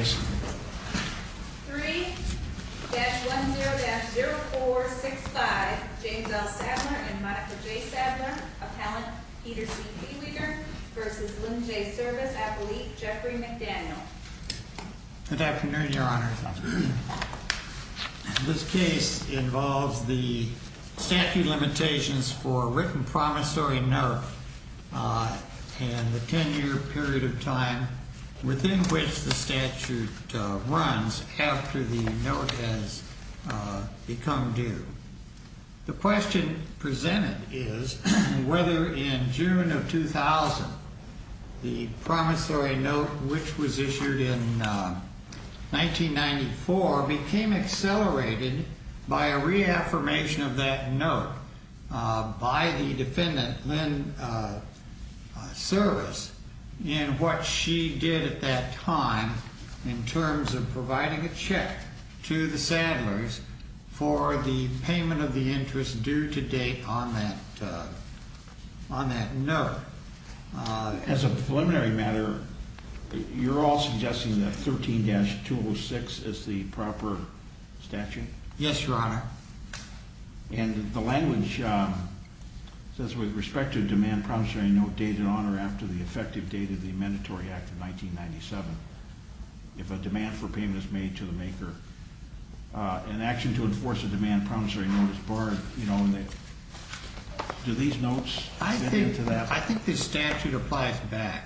3-10-0465 James L. Sadler and Monica J. Sadler, Appellant Peter C. Beweger v. Lynn J. Service Appellate Jeffrey McDaniel. Good afternoon, Your Honor. This case involves the statute limitations for written promissory note and the 10-year period of time within which the statute runs after the note has become due. The question presented is whether in June of 2000 the promissory note, which was issued in 1994, became accelerated by a reaffirmation of that note by the defendant, Lynn Service, in what she did at that time in terms of providing a check to the Sadlers for the payment of the interest due to date on that note. As a preliminary matter, you're all suggesting that 13-206 is the proper statute? Yes, Your Honor. And the language says, with respect to the demand promissory note dated on or after the effective date of the Amendatory Act of 1997, if a demand for payment is made to the maker, an action to enforce a demand promissory note is barred. Do these notes fit into that? I think the statute applies back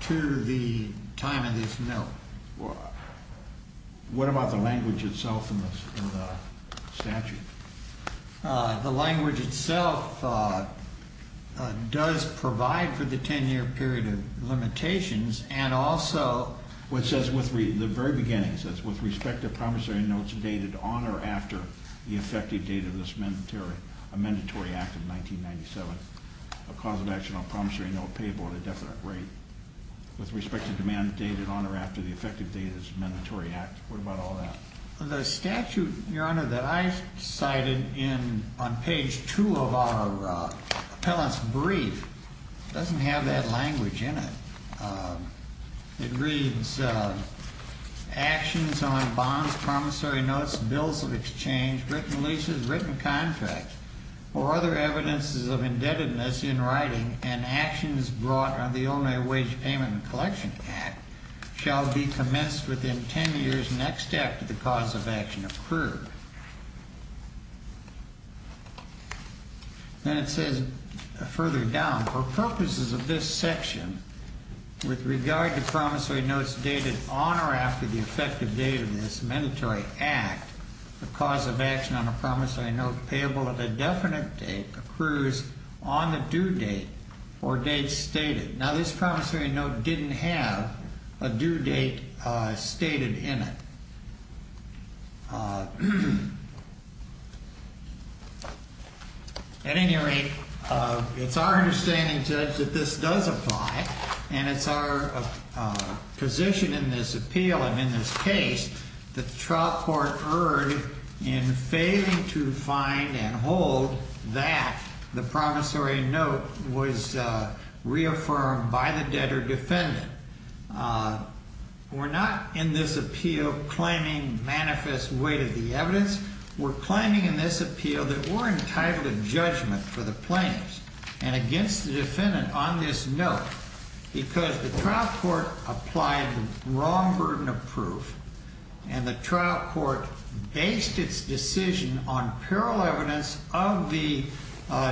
to the time of this note. What about the language itself in the statute? The language itself does provide for the 10-year period of limitations and also... It says, in the very beginning, it says, with respect to promissory notes dated on or after the effective date of this Amendatory Act of 1997, a cause of action on a promissory note payable at a definite rate, with respect to demand dated on or after the effective date of this Amendatory Act. What about all that? The statute, Your Honor, that I cited on page 2 of our appellant's brief doesn't have that language in it. It reads, actions on bonds, promissory notes, bills of exchange, written leases, written contracts, or other evidences of indebtedness in writing and actions brought on the Only Wage Payment and Collection Act shall be commenced within 10 years next after the cause of action occurred. Then it says further down, for purposes of this section, with regard to promissory notes dated on or after the effective date of this Amendatory Act, the cause of action on a promissory note payable at a definite date accrues on the due date or date stated. Now, this promissory note didn't have a due date stated in it. At any rate, it's our understanding, Judge, that this does apply, and it's our position in this appeal and in this case that the trial court erred in failing to find and hold that the promissory note was reaffirmed by the debtor defendant. We're not, in this appeal, claiming manifest weight of the evidence. We're claiming in this appeal that we're entitled to judgment for the plaintiffs and against the defendant on this note because the trial court applied the wrong burden of proof and the trial court based its decision on parallel evidence of the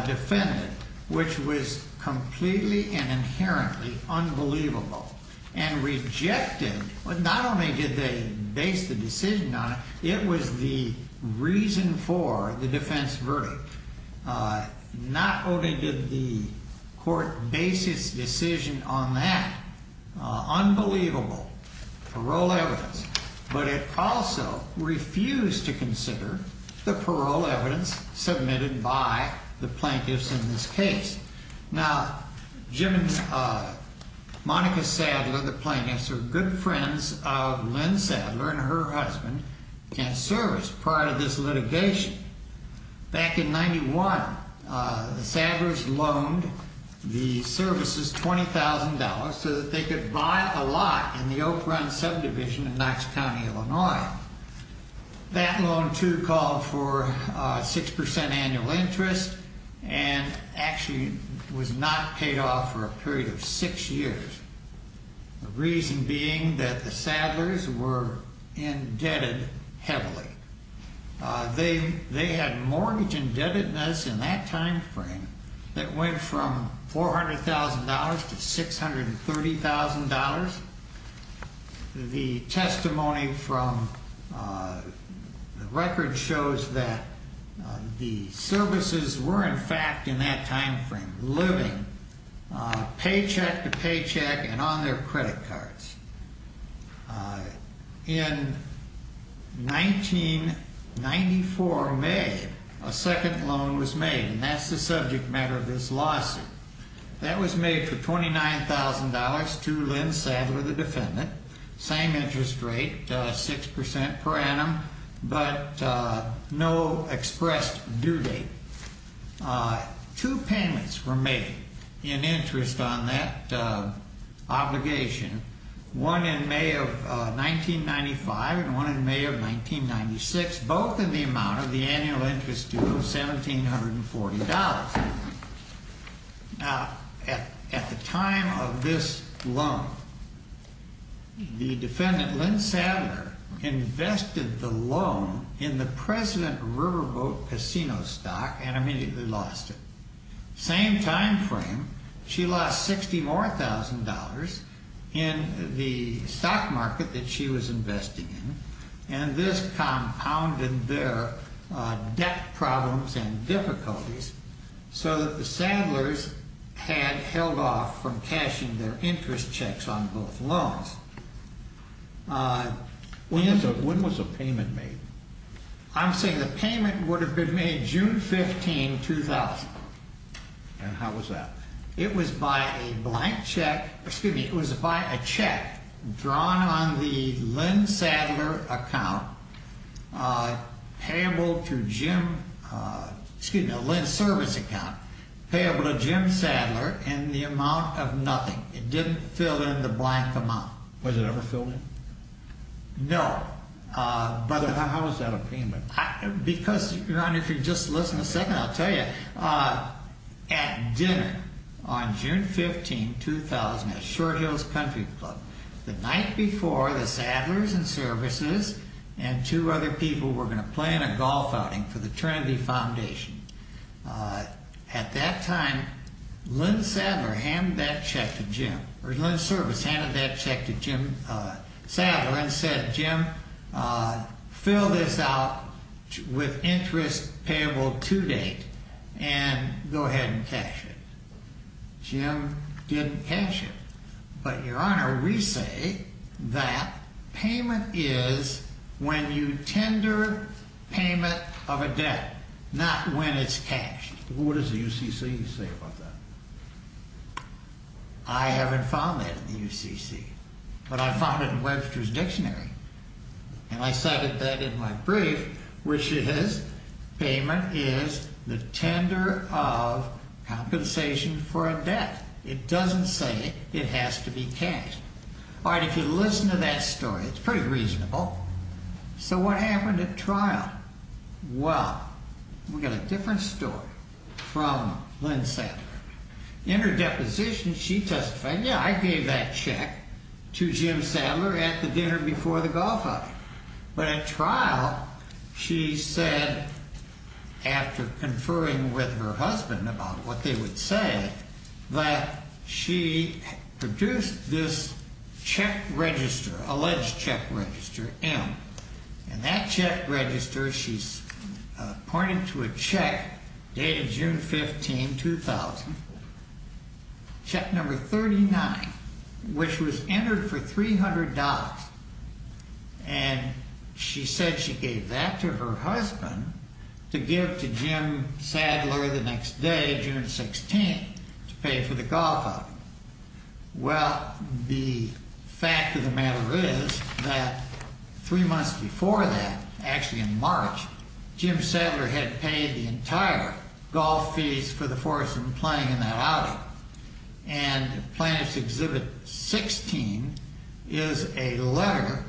defendant, which was completely and inherently unbelievable and rejected. Not only did they base the decision on it, it was the reason for the defense verdict. Not only did the court base its decision on that unbelievable parole evidence, but it also refused to consider the parole evidence submitted by the plaintiffs in this case. Now, Jim and Monica Sadler, the plaintiffs, are good friends of Lynn Sadler and her husband and serviced prior to this litigation. Back in 91, the Sadlers loaned the services $20,000 so that they could buy a lot in the Oak Run subdivision in Knox County, Illinois. Now, that loan, too, called for 6% annual interest and actually was not paid off for a period of six years. The reason being that the Sadlers were indebted heavily. They had mortgage indebtedness in that timeframe that went from $400,000 to $630,000. The testimony from the record shows that the services were, in fact, in that timeframe living paycheck to paycheck and on their credit cards. In 1994 May, a second loan was made, and that's the subject matter of this lawsuit. That was made for $29,000 to Lynn Sadler, the defendant. Same interest rate, 6% per annum, but no expressed due date. Two payments were made in interest on that obligation, one in May of 1995 and one in May of 1996, both in the amount of the annual interest due of $1,740. Now, at the time of this loan, the defendant, Lynn Sadler, invested the loan in the President Riverboat Casino stock and immediately lost it. Same timeframe, she lost $60,000 more in the stock market that she was investing in, and this compounded their debt problems and difficulties so that the Sadlers had held off from cashing their interest checks on both loans. When was the payment made? I'm saying the payment would have been made June 15, 2000. And how was that? It was by a check drawn on the Lynn Service account payable to Jim Sadler in the amount of nothing. It didn't fill in the blank amount. Was it ever filled in? No. How was that a payment? Because, Your Honor, if you just listen a second, I'll tell you. At dinner on June 15, 2000 at Short Hills Country Club, the night before the Sadlers and Services and two other people were going to plan a golf outing for the Trinity Foundation, at that time, Lynn Service handed that check to Jim Sadler and said, Jim, fill this out, with interest payable to date, and go ahead and cash it. Jim didn't cash it. But, Your Honor, we say that payment is when you tender payment of a debt, not when it's cashed. What does the UCC say about that? I haven't found that in the UCC. But I found it in Webster's Dictionary. And I cited that in my brief, which is payment is the tender of compensation for a debt. It doesn't say it has to be cashed. All right, if you listen to that story, it's pretty reasonable. So what happened at trial? Well, we got a different story from Lynn Sadler. In her deposition, she testified, yeah, I gave that check to Jim Sadler at the dinner before the golf outing. But at trial, she said, after conferring with her husband about what they would say, that she produced this check register, alleged check register, M. And that check register, she pointed to a check dated June 15, 2000, check number 39, which was entered for $300. And she said she gave that to her husband to give to Jim Sadler the next day, June 16, to pay for the golf outing. Well, the fact of the matter is that three months before that, actually in March, Jim Sadler had paid the entire golf fees for the four of us playing in that outing. And Plaintiff's Exhibit 16 is a letter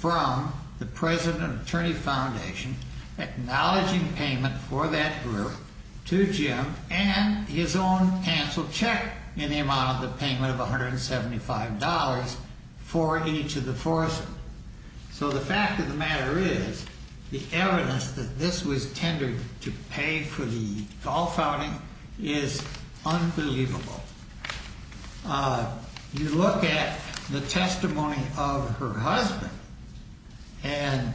from the President and Attorney Foundation acknowledging payment for that group to Jim and his own canceled check in the amount of the payment of $175 for each of the four of us. So the fact of the matter is, the evidence that this was tendered to pay for the golf outing is unbelievable. You look at the testimony of her husband, and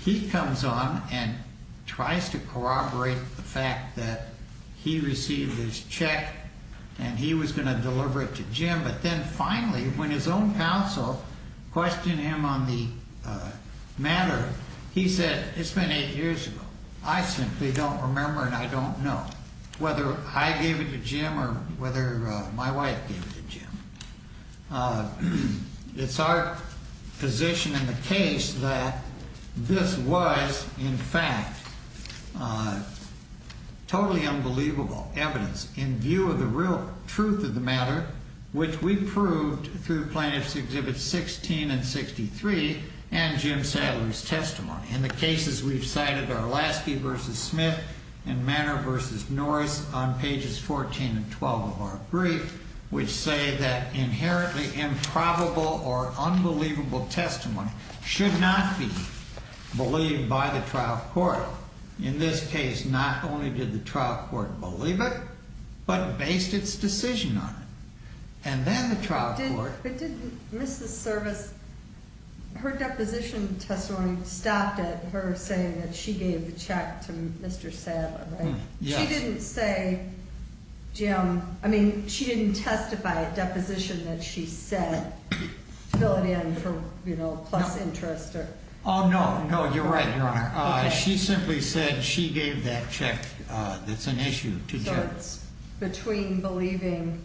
he comes on and tries to corroborate the fact that he received his check and he was going to deliver it to Jim. But then finally, when his own counsel questioned him on the matter, he said, it's been eight years ago. I simply don't remember and I don't know. Whether I gave it to Jim or whether my wife gave it to Jim. It's our position in the case that this was, in fact, totally unbelievable evidence in view of the real truth of the matter, which we proved through Plaintiff's Exhibits 16 and 63 and Jim Sadler's testimony. And the cases we've cited are Lasky v. Smith and Manor v. Norris on pages 14 and 12 of our brief, which say that inherently improbable or unbelievable testimony should not be believed by the trial court. In this case, not only did the trial court believe it, but based its decision on it. But didn't Mrs. Service, her deposition testimony stopped at her saying that she gave the check to Mr. Sadler, right? She didn't say, Jim, I mean, she didn't testify at deposition that she said, fill it in for plus interest. No, you're right, Your Honor. She simply said she gave that check that's an issue to Jim. What's the difference between believing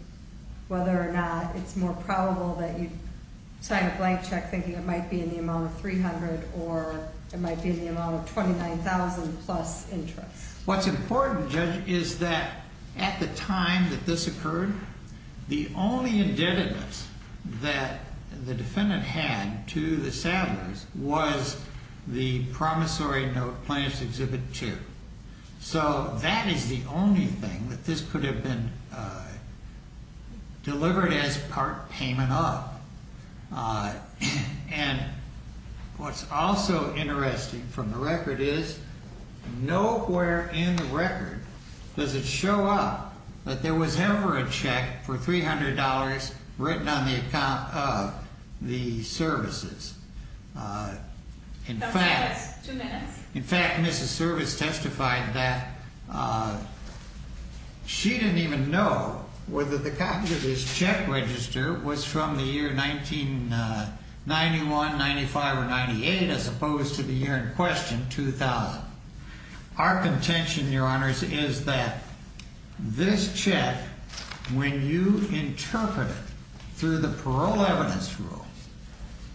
whether or not it's more probable that you'd sign a blank check thinking it might be in the amount of $300,000 or it might be in the amount of $29,000 plus interest? What's important, Judge, is that at the time that this occurred, the only indebtedness that the defendant had to the Sadlers was the promissory note, Plaintiff's Exhibit 2. So that is the only thing that this could have been delivered as part payment of. And what's also interesting from the record is, nowhere in the record does it show up that there was ever a check for $300 written on the account of the services. Two minutes. In fact, Mrs. Service testified that she didn't even know whether the copy of this check register was from the year 1991, 95, or 98, as opposed to the year in question, 2000. Our contention, Your Honors, is that this check, when you interpret it through the parole evidence rule,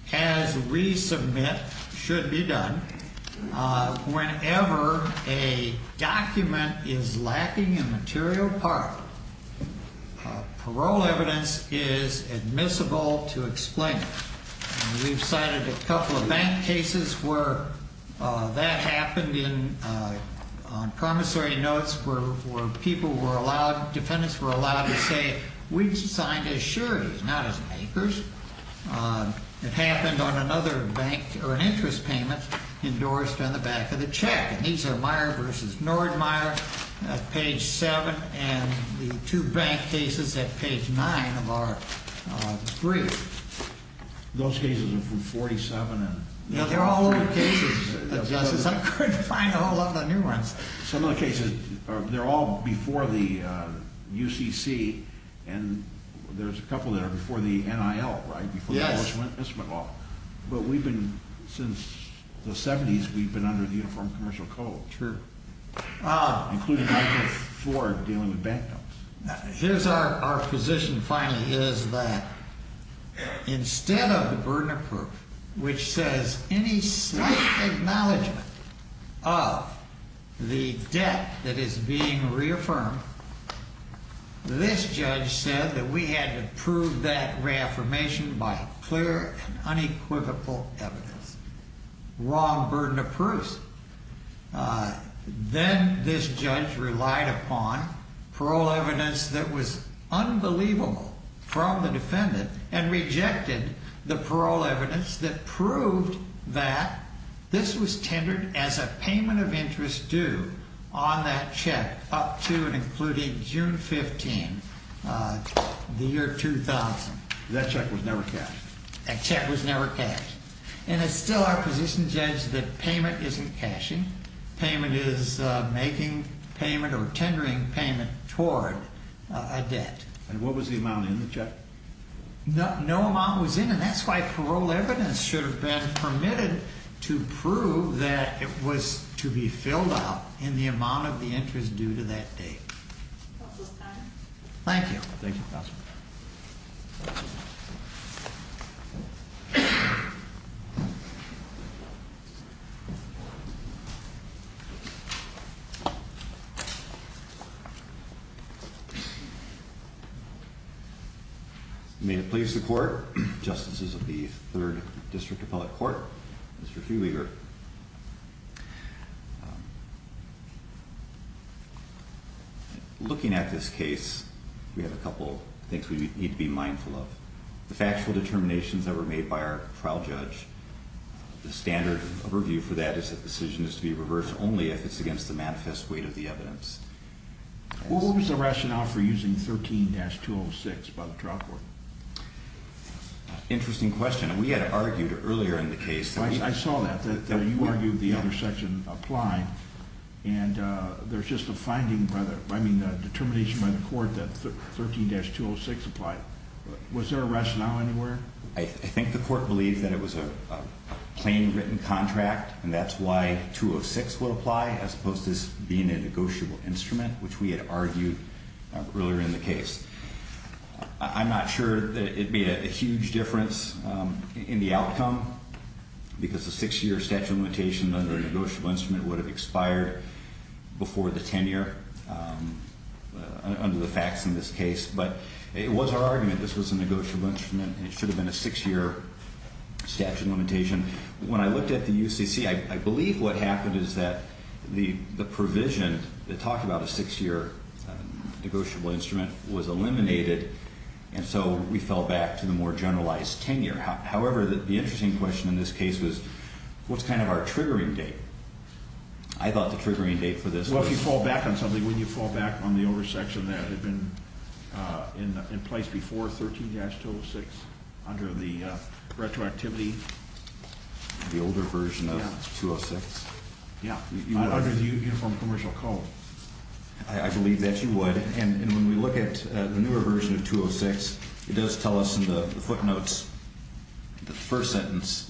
has resubmit, should be done, whenever a document is lacking a material part, parole evidence is admissible to explain it. We've cited a couple of bank cases where that happened on promissory notes where people were allowed, defendants were allowed to say, we signed as sureties, not as makers. It happened on another bank, or an interest payment, endorsed on the back of the check. And these are Myer v. Nordmyer at page 7, and the two bank cases at page 9 of our brief. Those cases are from 47. They're all old cases, Justice. I couldn't find all of the new ones. Some of the cases, they're all before the UCC, and there's a couple that are before the NIL, right? Yes. But we've been, since the 70s, we've been under the Uniform Commercial Code. True. Including Michael Ford dealing with bank notes. Here's our position, finally, is that instead of the burden of proof, which says any slight acknowledgment of the debt that is being reaffirmed, this judge said that we had to prove that reaffirmation by clear and unequivocal evidence. Wrong burden of proof. Then this judge relied upon parole evidence that was unbelievable from the defendant, and rejected the parole evidence that proved that this was tendered as a payment of interest due on that check up to and including June 15, the year 2000. That check was never cashed. That check was never cashed. And it's still our position, Judge, that payment isn't cashing. Payment is making payment or tendering payment toward a debt. And what was the amount in the check? No amount was in, and that's why parole evidence should have been permitted to prove that it was to be filled out in the amount of the interest due to that date. Counsel's time. Thank you. May it please the court. Justices of the 3rd District Appellate Court. Mr. Friedweger. Looking at this case, we have a couple things we need to be mindful of. The factual determinations that were made by our trial judge. The standard of review for that is that the decision is to be reversed only if it's against the manifest weight of the evidence. What was the rationale for using 13-206 by the trial court? Interesting question. We had argued earlier in the case. I saw that. You argued the other section applied. And there's just a finding, I mean a determination by the court that 13-206 applied. Was there a rationale anywhere? I think the court believed that it was a plain written contract and that's why 206 would have been a negotiable instrument, which we had argued earlier in the case. I'm not sure that it made a huge difference in the outcome. Because a 6-year statute of limitation under a negotiable instrument would have expired before the tenure under the facts in this case. But it was our argument that this was a negotiable instrument. It should have been a 6-year statute of limitation. When I looked at the UCC, I believe what happened is that the provision that talked about a 6-year negotiable instrument was eliminated. And so we fell back to the more generalized tenure. However, the interesting question in this case was what's kind of our triggering date? I thought the triggering date for this was... Well, if you fall back on something, wouldn't you fall back on the over section that had been in place before 13-206 under the retroactivity? The older version of 206? Yeah. Under the Uniform Commercial Code. I believe that you would. And when we look at the newer version of 206, it does tell us in the footnotes the first sentence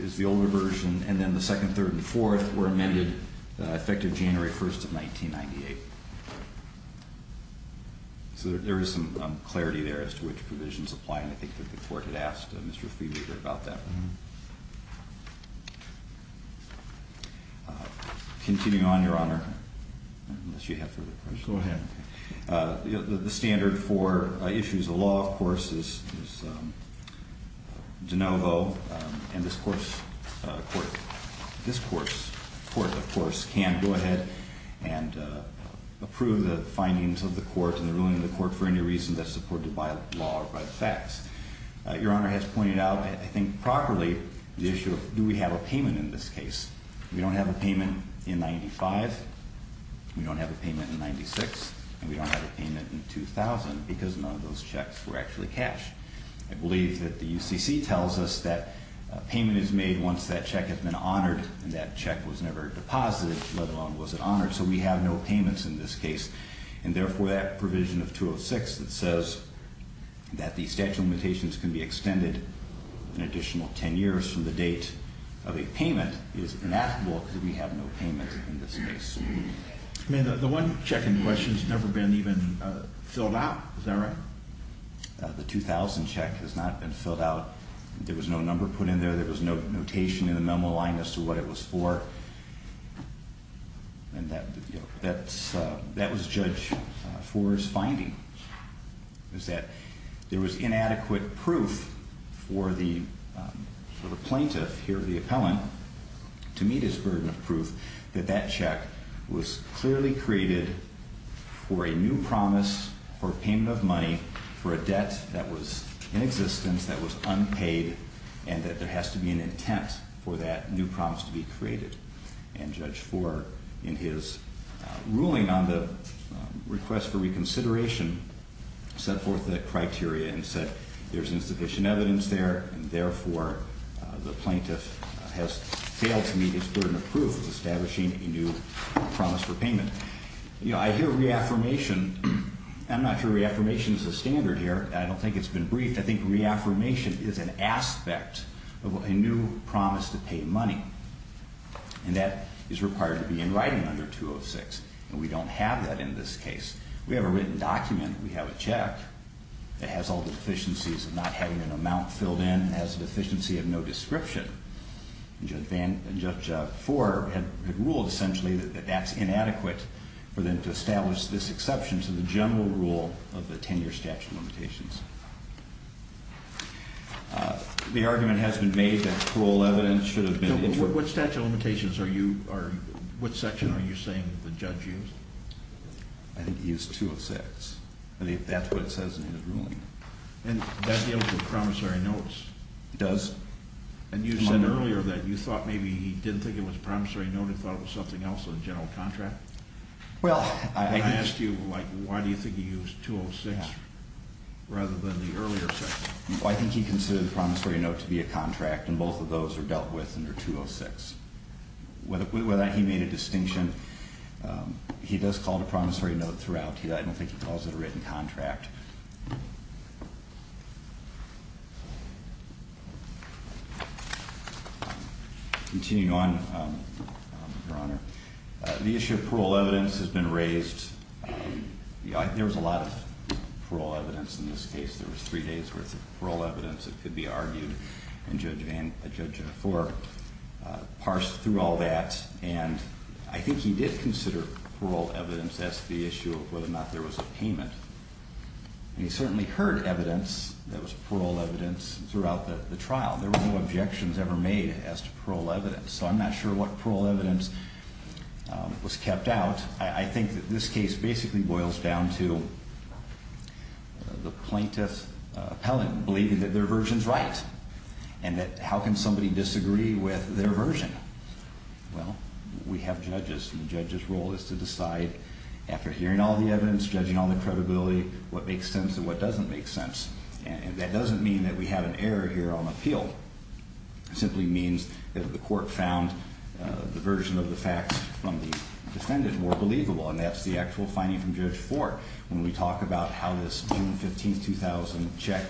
is the older version, and then the second, third, and fourth were amended effective January 1st of 1998. So there is some clarity there as to which provisions apply. And I think the court had asked Mr. Friedrich about that. Continuing on, Your Honor. Unless you have further questions. Go ahead. The standard for issues of law, of course, is de novo, and this court can go ahead and approve the findings of the court and the ruling of the court for any reason that's supported by law or by the facts. Your Honor has pointed out, I think properly, the issue of do we have a payment in this case? We don't have a payment in 95, we don't have a payment in 96, and we don't have a payment in 2000 because none of those checks were actually cashed. I believe that the UCC tells us that a payment is made once that check has been honored and that check was never deposited, let alone was it honored. So we have no payments in this case. And therefore that provision of 206 that says that the statute of limitations can be extended an additional 10 years from the date of a payment is inapplicable because we have no payment in this case. The one check in question has never been even filled out. Is that right? The 2000 check has not been filled out. There was no number put in there. There was no notation in the memo line as to what it was for. And that was judged for its finding. It said there was inadequate proof for the plaintiff, here the appellant, to meet his burden of proof that that check was clearly created for a new promise for payment of money for a debt that was in existence that was unpaid and that there has to be an intent for that new promise to be created. And Judge Fore in his ruling on the request for reconsideration set forth that criteria and said there's insufficient evidence there and therefore the plaintiff has failed to meet his burden of proof of establishing a new promise for payment. I hear reaffirmation. I'm not sure reaffirmation is a standard here. I don't think it's been briefed. I think reaffirmation is an aspect of a new promise to pay money. And that is required to be in writing under 206. And we don't have that in this case. We have a written document. We have a check. It has all the deficiencies of not having an amount filled in and has a deficiency of no description. Judge Fore had ruled essentially that that's inadequate for them to establish this exception to the general rule of the 10-year statute of limitations. The argument has been made that parole evidence should have been... What statute of limitations are you... What section are you saying the judge used? I think he used 206. I think that's what it says in his ruling. And that deals with promissory notes? It does. And you said earlier that you thought maybe he didn't think it was a promissory note and thought it was something else in the general contract? I asked you, why do you think he used 206 rather than the earlier section? I think he considered the promissory note to be a contract, and both of those are dealt with under 206. With that, he made a distinction. He does call it a promissory note throughout. I don't think he calls it a written contract. Continuing on, Your Honor, the issue of parole evidence has been raised... There was a lot of parole evidence in this case. There was three days' worth of parole evidence that could be argued, and Judge Fore parsed through all that. I think he did consider parole evidence as the issue of whether or not there was a payment. He certainly heard evidence that was parole evidence throughout the trial. There were no objections ever made as to parole evidence, so I'm not sure what parole evidence was kept out. I think that this case basically boils down to the plaintiff's appellant believing that their version's right and that how can somebody disagree with their version? Well, we have judges and the judge's role is to decide after hearing all the evidence, judging all the credibility, what makes sense and what doesn't make sense. That doesn't mean that we have an error here on appeal. It simply means that the court found the version of the facts from the defendant more believable, and that's the actual finding from Judge Fort. When we talk about how this June 15, 2000 check,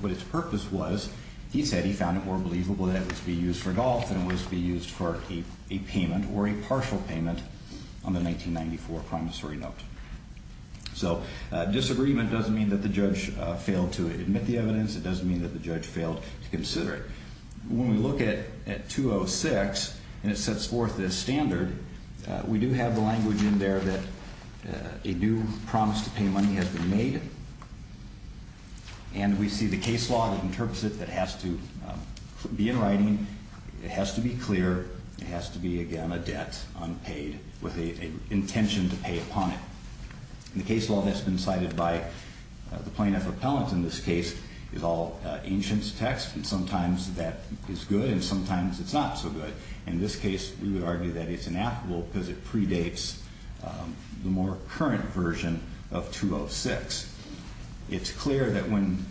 what its purpose was, he said he found it more believable that it was to be used for golf than it was to be used for a payment or a partial payment on the 1994 promissory note. Disagreement doesn't mean that the judge failed to admit the evidence. It doesn't mean that the judge failed to consider it. When we look at 206 and it sets forth this standard, we do have the language in there that a new promise to pay money has been made and we see the case law that interprets it that has to be in writing, it has to be clear, it has to be, again, a debt unpaid with an intention to pay upon it. The case law that's been cited by the plaintiff appellant in this case is all ancient text and sometimes that is good and sometimes it's not so good. In this case, we would argue that it's inapplicable because it predates the more current version of 206. It's clear that when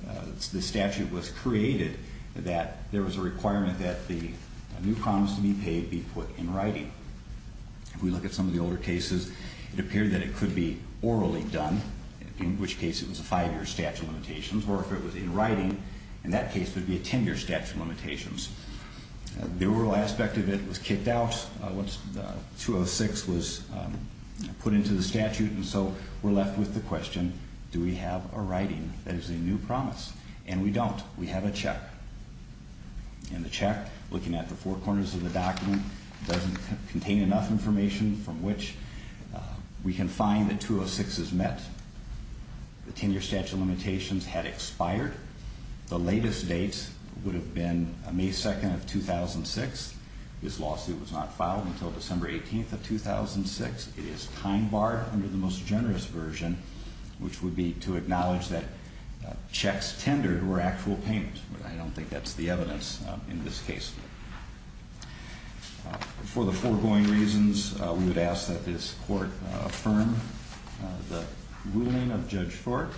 the statute was created that there was a requirement that the new promise to be paid be put in writing. If we look at some of the older cases, it appeared that it could be orally done, in which case it was a five-year statute of limitations or if it was in writing, in that case it would be a ten-year statute of limitations. The oral aspect of it was kicked out once 206 was put into the statute and so we're left with the question, do we have a writing that is a new promise? And we don't. We have a check. And the check, looking at the four corners of the document, doesn't contain enough information from which we can find that 206 is met. The ten-year statute of limitations had expired. The latest date would have been May 2, 2006. This lawsuit was not filed until December 18, 2006. It is time-barred under the most generous version which would be to acknowledge that checks tendered were actual payments. I don't think that's the evidence in this case. For the foregoing reasons, we would ask that this court affirm the ruling of Judge Fork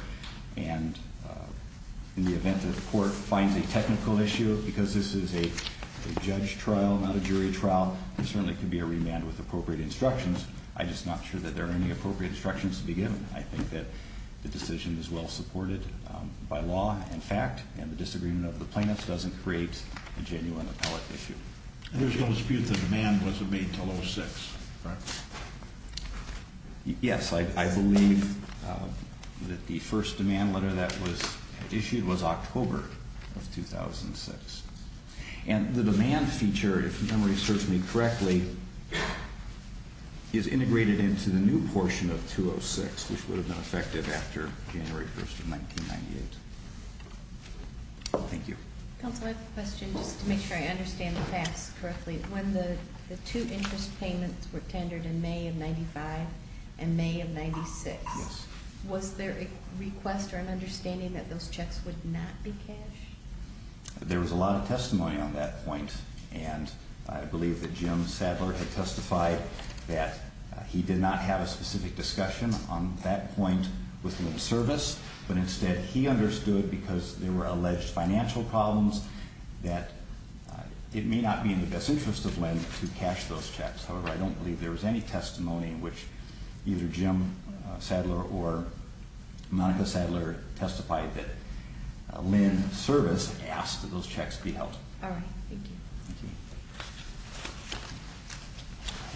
and in the event that the court finds a technical issue, because this is a judge trial, not a jury trial, there certainly could be a remand with appropriate instructions. I'm just not sure that there are any appropriate instructions to be given. I think that the decision is well supported by law and fact, and the disagreement of the plaintiffs doesn't create a genuine appellate issue. There's no dispute that demand wasn't made until 2006, correct? Yes, I believe that the first demand letter that was issued was October of 2006. And the demand feature, if memory serves me correctly, is June of 2006, which would have been effective after January 1st of 1998. Thank you. Counselor, I have a question, just to make sure I understand the facts correctly. When the two interest payments were tendered in May of 95 and May of 96, was there a request or an understanding that those checks would not be cash? There was a lot of testimony on that point, and I believe that Jim Sadler had testified that he did not have a specific discussion on that point with Lynn Service, but instead he understood, because there were alleged financial problems, that it may not be in the best interest of Lynn to cash those checks. However, I don't believe there was any testimony in which either Jim Sadler or Monica Sadler testified that Lynn Service asked that those checks be held. All right. Thank you.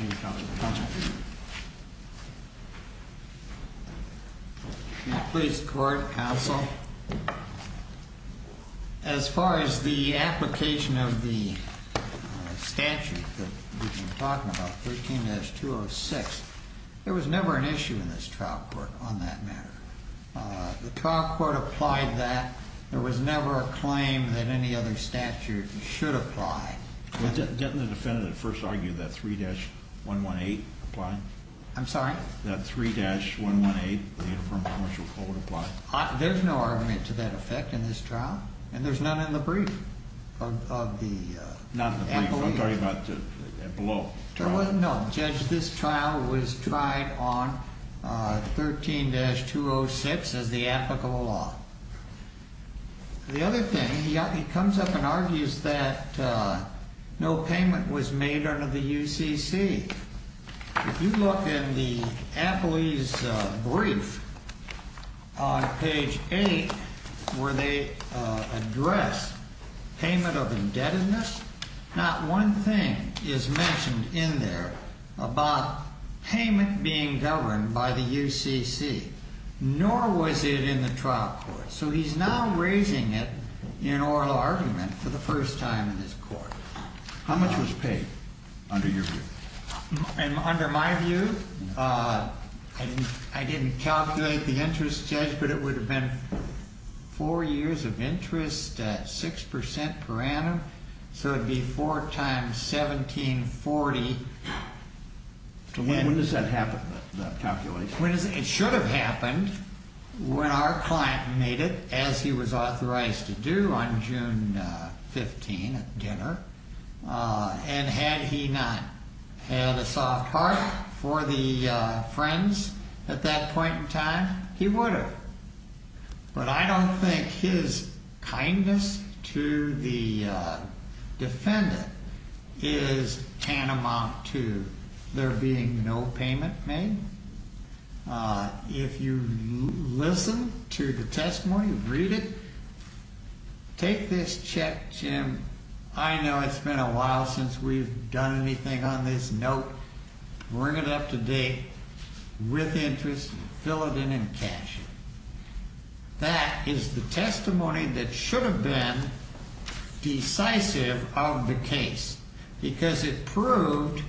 Thank you. Please, Court, Counsel. As far as the application of the statute that we've been talking about, 13-206, there was never an issue in this trial court on that matter. The trial court applied that. There was never a claim that any other statute should apply. Didn't the defendant at first argue that 3-118 applied? I'm sorry? That 3-118, the Uniform Commercial Code, applied? There's no argument to that effect in this trial, and there's none in the brief. Not in the brief. I'm talking about below. No, Judge, this trial was tried on 13-206 as the applicable law. The other thing, he comes up and argues that no payment was made under the UCC. If you look in the Appley's brief on page 8, where they address payment of indebtedness, not one thing is mentioned in there about payment being governed by the UCC, nor was it in the trial court. He's now raising it in oral argument for the first time in this court. How much was paid, under your view? Under my view, I didn't calculate the interest, Judge, but it would have been 4 years of interest at 6% per annum, so it would be 4 times 1740. When does that happen, the calculation? It should have happened when our client made it, as he was authorized to do, on June 15 at dinner, and had he not had a soft heart for the friends at that point in time, he would have. But I don't think his kindness to the defendant is tantamount to there being no payment made. If you listen to the testimony, read it, take this check, Jim. I know it's been a while since we've done anything on this. Note, bring it up to date with interest, fill it in, and cash it. That is the testimony that should have been decisive of the case, because it proved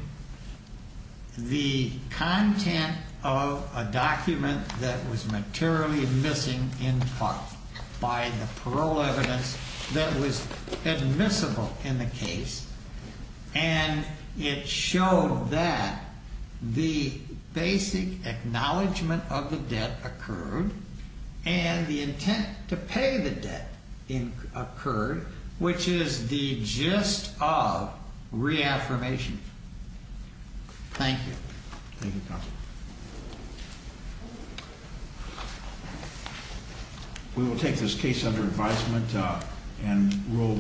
the content of a document that was materially missing in part by the parole evidence that was admissible in the case, and it showed that the basic acknowledgement of the debt occurred, and the intent to pay the debt occurred, which is the gist of the affirmation. Thank you. We will take this case under advisement and roll